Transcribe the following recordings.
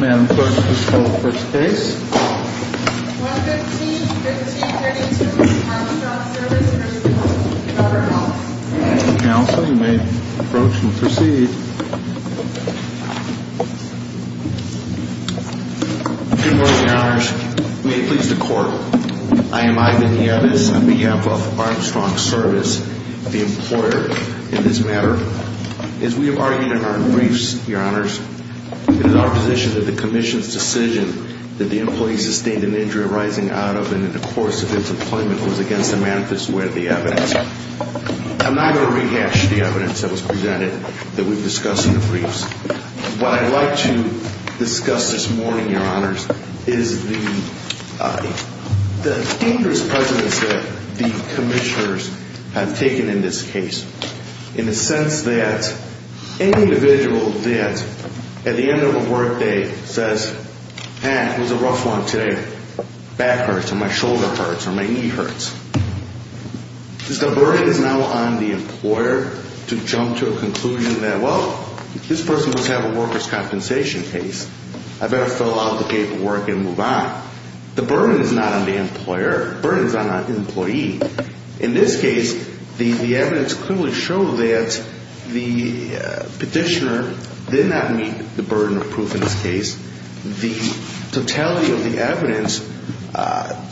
Madam Clerk, please call forth the case. 115-1532 Armstrong Service v. Governor House Council, you may approach and proceed. Good morning, Your Honors. May it please the Court, I am Ivan Yadis on behalf of Armstrong Service, the employer in this matter. As we have argued in our briefs, Your Honors, it is our position that the Commission's decision that the employee sustained an injury arising out of and in the course of his employment was against the manifest way of the evidence. I'm not going to rehash the evidence that was presented that we've discussed in the briefs. What I'd like to discuss this morning, Your Honors, is the dangerous precedence that the Commissioners have taken in this case. In the sense that any individual that at the end of a work day says, man, it was a rough one today, back hurts or my shoulder hurts or my knee hurts. The burden is now on the employer to jump to a conclusion that, well, this person must have a workers' compensation case. I better fill out the paperwork and move on. The burden is not on the employer. The burden is on the employee. In this case, the evidence clearly shows that the petitioner did not meet the burden of proof in this case. The totality of the evidence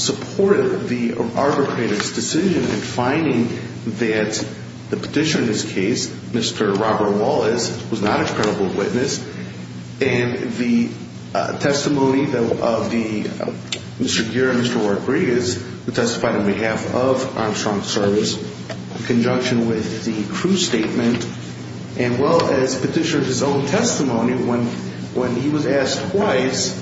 supported the arbitrator's decision in finding that the petitioner in this case, Mr. Robert Wallace, was not a credible witness. And the testimony of Mr. Gere and Mr. Rodriguez, who testified on behalf of Armstrong Service in conjunction with the crew statement, and well, as petitioner of his own testimony, when he was asked twice,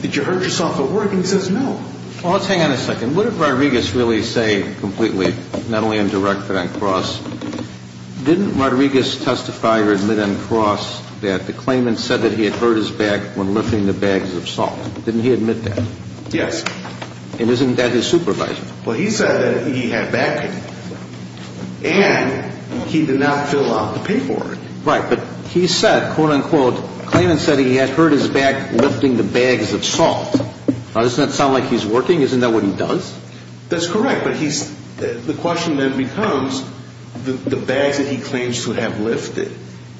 did you hurt yourself at work, and he says no. Well, let's hang on a second. What did Rodriguez really say completely, not only Didn't Rodriguez testify or admit on cross that the claimant said that he had hurt his back when lifting the bags of salt? Didn't he admit that? Yes. And isn't that his supervisor? Well, he said that he had back pain, and he did not fill out the paperwork. Right, but he said, quote, unquote, claimant said he had hurt his back lifting the bags of salt. Now, doesn't that sound like he's working? Isn't that what he does? That's correct, but the question then becomes the bags that he claims to have lifted,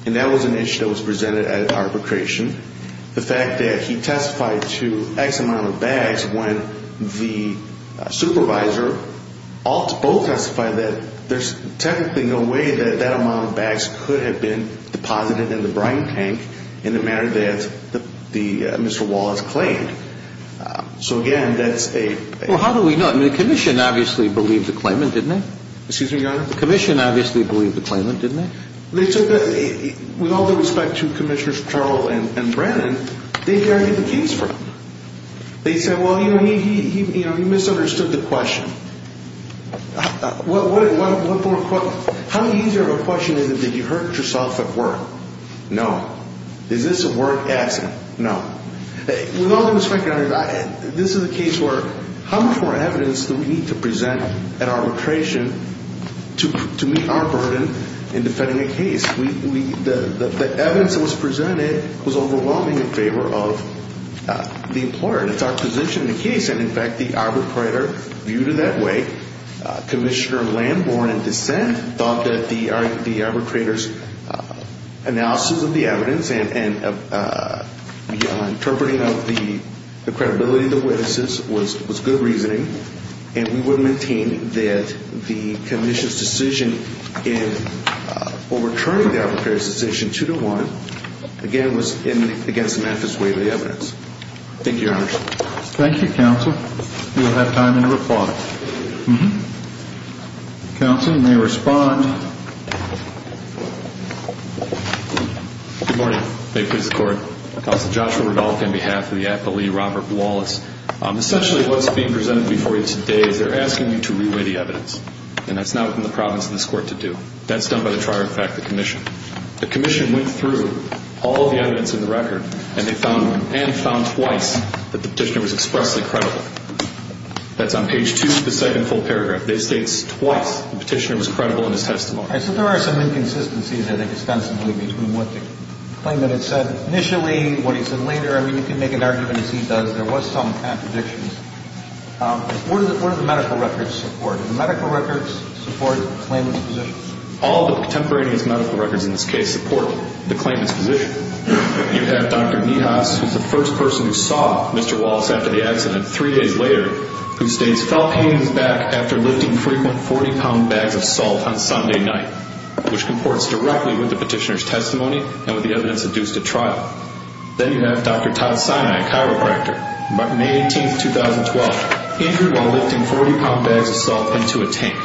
and that was an issue that was presented at arbitration. The fact that he testified to X amount of bags when the supervisor both testified that there's technically no way that that amount of bags could have been deposited in the brine tank in the manner that Mr. Wallace claimed. So again, that's a Well, how do we know? I mean, the commission obviously believed the claimant, didn't it? Excuse me, Your Honor? The commission obviously believed the claimant, didn't it? They took that, with all due respect to Commissioners Carroll and Brannon, they heard the case from. They said, well, you misunderstood the question. How easy of a question is it that you hurt yourself at work? No. Is this a work accident? No. With all due respect, Your Honor, this is a case where how much more evidence do we need to present at arbitration to meet our burden in defending a case? The evidence that was presented was overwhelming in favor of the employer. It's our position in the case, and in fact, the arbitrator viewed it that way. Commissioner Lamborn in dissent thought that the arbitrator's analysis of the evidence and interpreting of the credibility of the witnesses was good reasoning, and we would maintain that the commission's decision in overturning the arbitrator's decision 2-1, again, was against the manifest way of the evidence. Thank you, Your Honor. Thank you, Counsel. We will have time to reply. Counsel, you may respond. Good morning. May it please the Court. Counsel Joshua Rudolph on behalf of the appellee, Robert Wallace. Essentially what's being presented before you today is they're asking you to re-weigh the evidence, and that's not within the province of this Court to do. That's done by the trier of fact, the commission. The commission went through all of the evidence in the record, and they found and found twice that the petitioner was expressly credible. That's on page 2 of the second full paragraph. It states twice the petitioner was credible in his testimony. So there are some inconsistencies, I think, extensively between what the claimant had said initially, what he said later. I mean, you can make an argument as he does. There was some contradictions. What do the medical records support? Do the medical records support the claimant's position? All the contemporaneous medical records in this case support the claimant's position. You have Dr. Niehaus, who's the first person who saw Mr. Wallace after the accident three days later, who states felt pain in his back after lifting frequent 40-pound bags of salt on Sunday night, which comports directly with the petitioner's testimony and with the evidence adduced at trial. Then you have Dr. Todd Sinai, chiropractor, May 18, 2012, injured while lifting 40-pound bags of salt into a tank.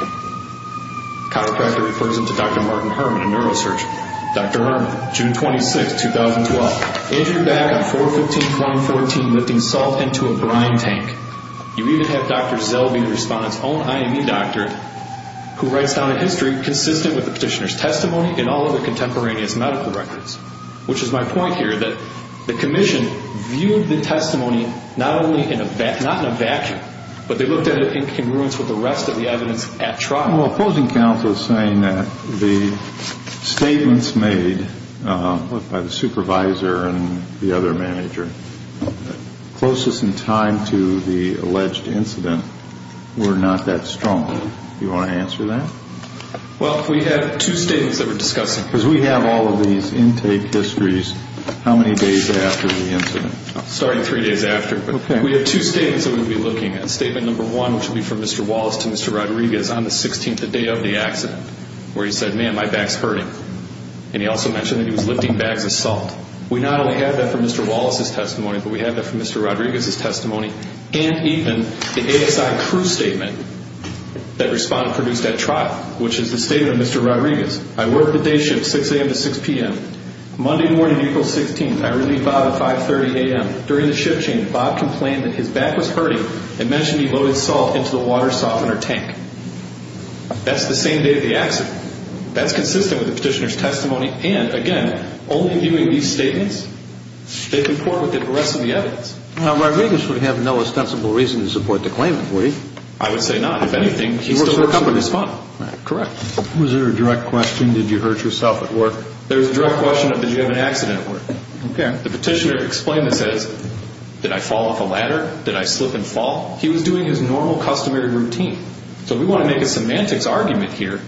Chiropractor refers him to Dr. Martin Herman, a neurosurgeon. Dr. Herman, June 26, 2012, injured back on 4-15-2014 lifting salt into a brine tank. You even have Dr. Zelby, the respondent's own IME doctor, who writes down a history consistent with the petitioner's testimony and all of the contemporaneous medical records, which is my point here that the commission viewed the testimony not only in a vacuum, but they looked at it in congruence with the rest of the evidence at trial. Well, opposing counsel is saying that the statements made by the supervisor and the other manager closest in time to the alleged incident were not that strong. Do you want to answer that? Well, we have two statements that we're discussing. Because we have all of these intake histories. How many days after the incident? Starting three days after. Okay. We have two statements that we'll be looking at. Statement number one, which will be from Mr. Wallace to Mr. Rodriguez, on the 16th, the day of the accident, where he said, man, my back's hurting. And he also mentioned that he was lifting bags of salt. We not only have that from Mr. Wallace's testimony, but we have that from Mr. Rodriguez's testimony, and even the ASI crew statement that responded, produced at trial, which is the statement of Mr. Rodriguez. I worked the day shift, 6 a.m. to 6 p.m. Monday morning, April 16th, I relieved Bob at 5.30 a.m. During the shift change, Bob complained that his back was hurting and mentioned he loaded salt into the water softener tank. That's the same day of the accident. That's consistent with the petitioner's testimony, and, again, only viewing these statements, they comport with the rest of the evidence. Now, Rodriguez would have no ostensible reason to support the claimant, would he? I would say not. If anything, he's still the company's fund. Correct. Was there a direct question? Did you hurt yourself at work? There was a direct question of did you have an accident at work. The petitioner explained and says, did I fall off a ladder? Did I slip and fall? He was doing his normal customary routine. So we want to make a semantics argument here.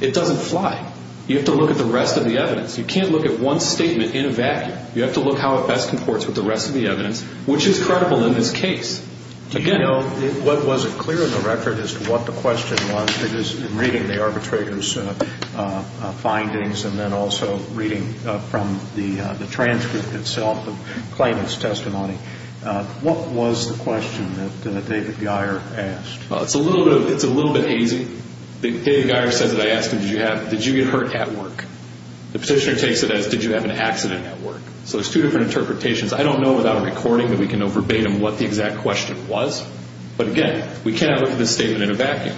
It doesn't fly. You have to look at the rest of the evidence. You can't look at one statement in a vacuum. You have to look how it best comports with the rest of the evidence, which is credible in this case. Do you know what was clear in the record as to what the question was? Because in reading the arbitrator's findings and then also reading from the transcript itself, the claimant's testimony, what was the question that David Geyer asked? Well, it's a little bit hazy. David Geyer says that I asked him, did you get hurt at work? The petitioner takes it as did you have an accident at work? So there's two different interpretations. I don't know without a recording that we can know verbatim what the exact question was. But, again, we cannot look at this statement in a vacuum.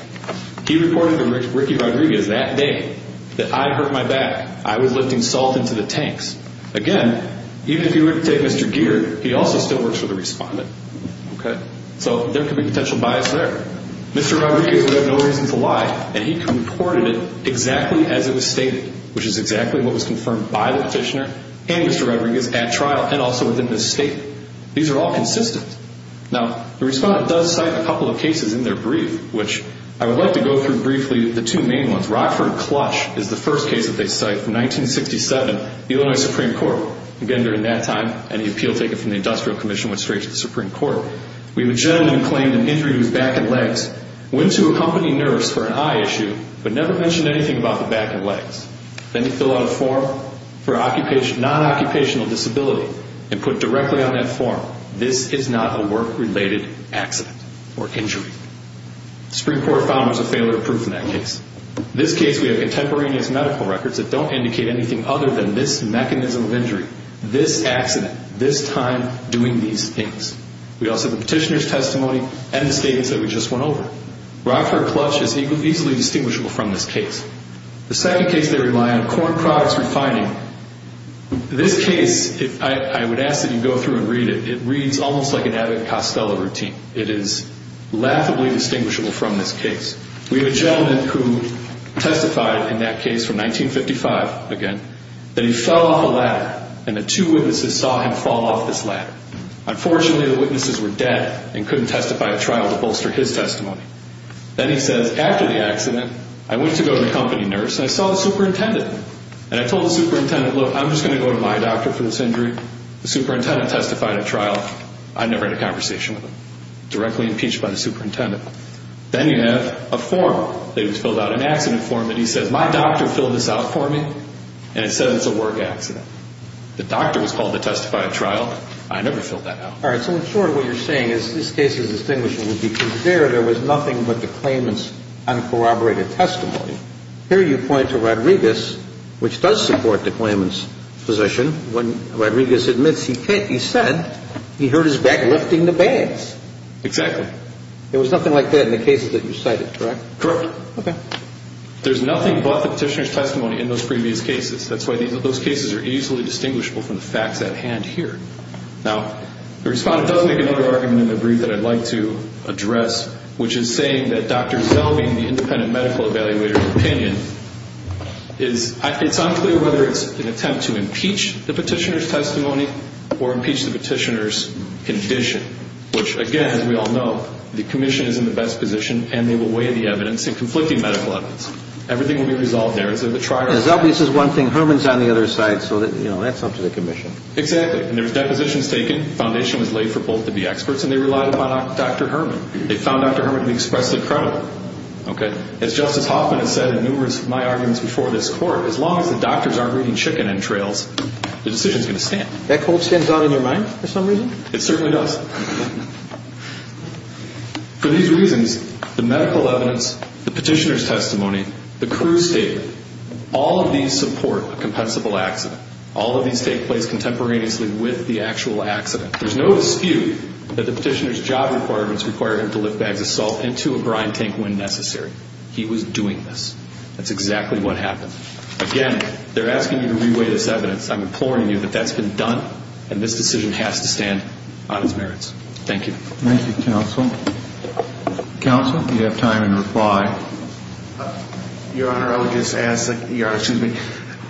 He reported to Ricky Rodriguez that day that I hurt my back. I was lifting salt into the tanks. Again, even if you were to take Mr. Geer, he also still works for the respondent. So there could be potential bias there. Mr. Rodriguez would have no reason to lie, and he reported it exactly as it was stated, which is exactly what was confirmed by the petitioner and Mr. Rodriguez at trial and also within this statement. These are all consistent. Now, the respondent does cite a couple of cases in their brief, which I would like to go through briefly the two main ones. Rockford Clush is the first case that they cite from 1967, the Illinois Supreme Court. Again, during that time, any appeal taken from the Industrial Commission went straight to the Supreme Court. We would generally claim an injury to the back and legs, went to a company nurse for an eye issue, but never mentioned anything about the back and legs. Then they fill out a form for non-occupational disability and put directly on that form, this is not a work-related accident or injury. The Supreme Court found there was a failure of proof in that case. In this case, we have contemporaneous medical records that don't indicate anything other than this mechanism of injury, this accident, this time doing these things. We also have the petitioner's testimony and the statements that we just went over. Rockford Clush is easily distinguishable from this case. The second case they rely on, Corn Products Refining. This case, I would ask that you go through and read it. It reads almost like an Abbott and Costello routine. It is laughably distinguishable from this case. We have a gentleman who testified in that case from 1955, again, that he fell off a ladder and the two witnesses saw him fall off this ladder. Unfortunately, the witnesses were dead and couldn't testify at trial to bolster his testimony. Then he says, after the accident, I went to go to the company nurse and I saw the superintendent, and I told the superintendent, look, I'm just going to go to my doctor for this injury. The superintendent testified at trial. I never had a conversation with him. Directly impeached by the superintendent. Then you have a form that was filled out, an accident form, and he says, my doctor filled this out for me, and it says it's a work accident. The doctor was called to testify at trial. I never filled that out. All right. So in short, what you're saying is this case is distinguishable because there, there was nothing but the claimant's uncorroborated testimony. Here you point to Rodriguez, which does support the claimant's position. When Rodriguez admits he said he hurt his back lifting the bags. Exactly. There was nothing like that in the cases that you cited, correct? Correct. Okay. There's nothing but the petitioner's testimony in those previous cases. That's why those cases are easily distinguishable from the facts at hand here. Now, the respondent does make another argument in the brief that I'd like to address, which is saying that Dr. Zell being the independent medical evaluator's opinion, it's unclear whether it's an attempt to impeach the petitioner's testimony or impeach the petitioner's condition, which, again, as we all know, the commission is in the best position, and they will weigh the evidence in conflicting medical evidence. Everything will be resolved there. It's a trial. And as obvious as one thing, Herman's on the other side, so that, you know, that's up to the commission. Exactly. And there was depositions taken. The foundation was laid for both to be experts, and they relied upon Dr. Herman. They found Dr. Herman to be expressly credible. Okay? As Justice Hoffman has said in numerous of my arguments before this Court, as long as the doctors aren't reading chicken entrails, the decision's going to stand. That quote stands out in your mind for some reason? It certainly does. For these reasons, the medical evidence, the petitioner's testimony, the crew's statement, all of these support a compensable accident. All of these take place contemporaneously with the actual accident. There's no dispute that the petitioner's job requirements required him to lift bags of salt into a grind tank when necessary. He was doing this. That's exactly what happened. Again, they're asking you to re-weigh this evidence. I'm imploring you that that's been done, and this decision has to stand on its merits. Thank you. Thank you, counsel. Counsel, you have time in reply. Your Honor, I would just ask that your Honor, excuse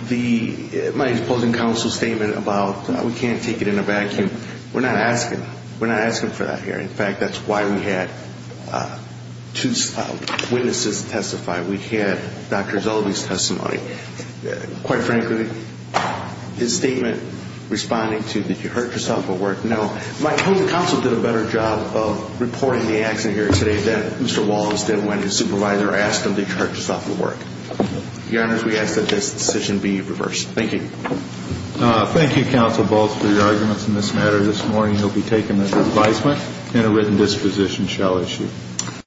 me, my opposing counsel's statement about we can't take it in a vacuum, we're not asking. We're not asking for that here. In fact, that's why we had two witnesses testify. We had Dr. Zellwey's testimony. Quite frankly, his statement responding to did you hurt yourself at work? No. I hope the counsel did a better job of reporting the accident here today than Mr. Wallace did when his supervisor asked him to charge us off of work. Your Honor, we ask that this decision be reversed. Thank you. Thank you, counsel, both for your arguments in this matter. This morning you'll be taken under advisement, and a written disposition shall issue.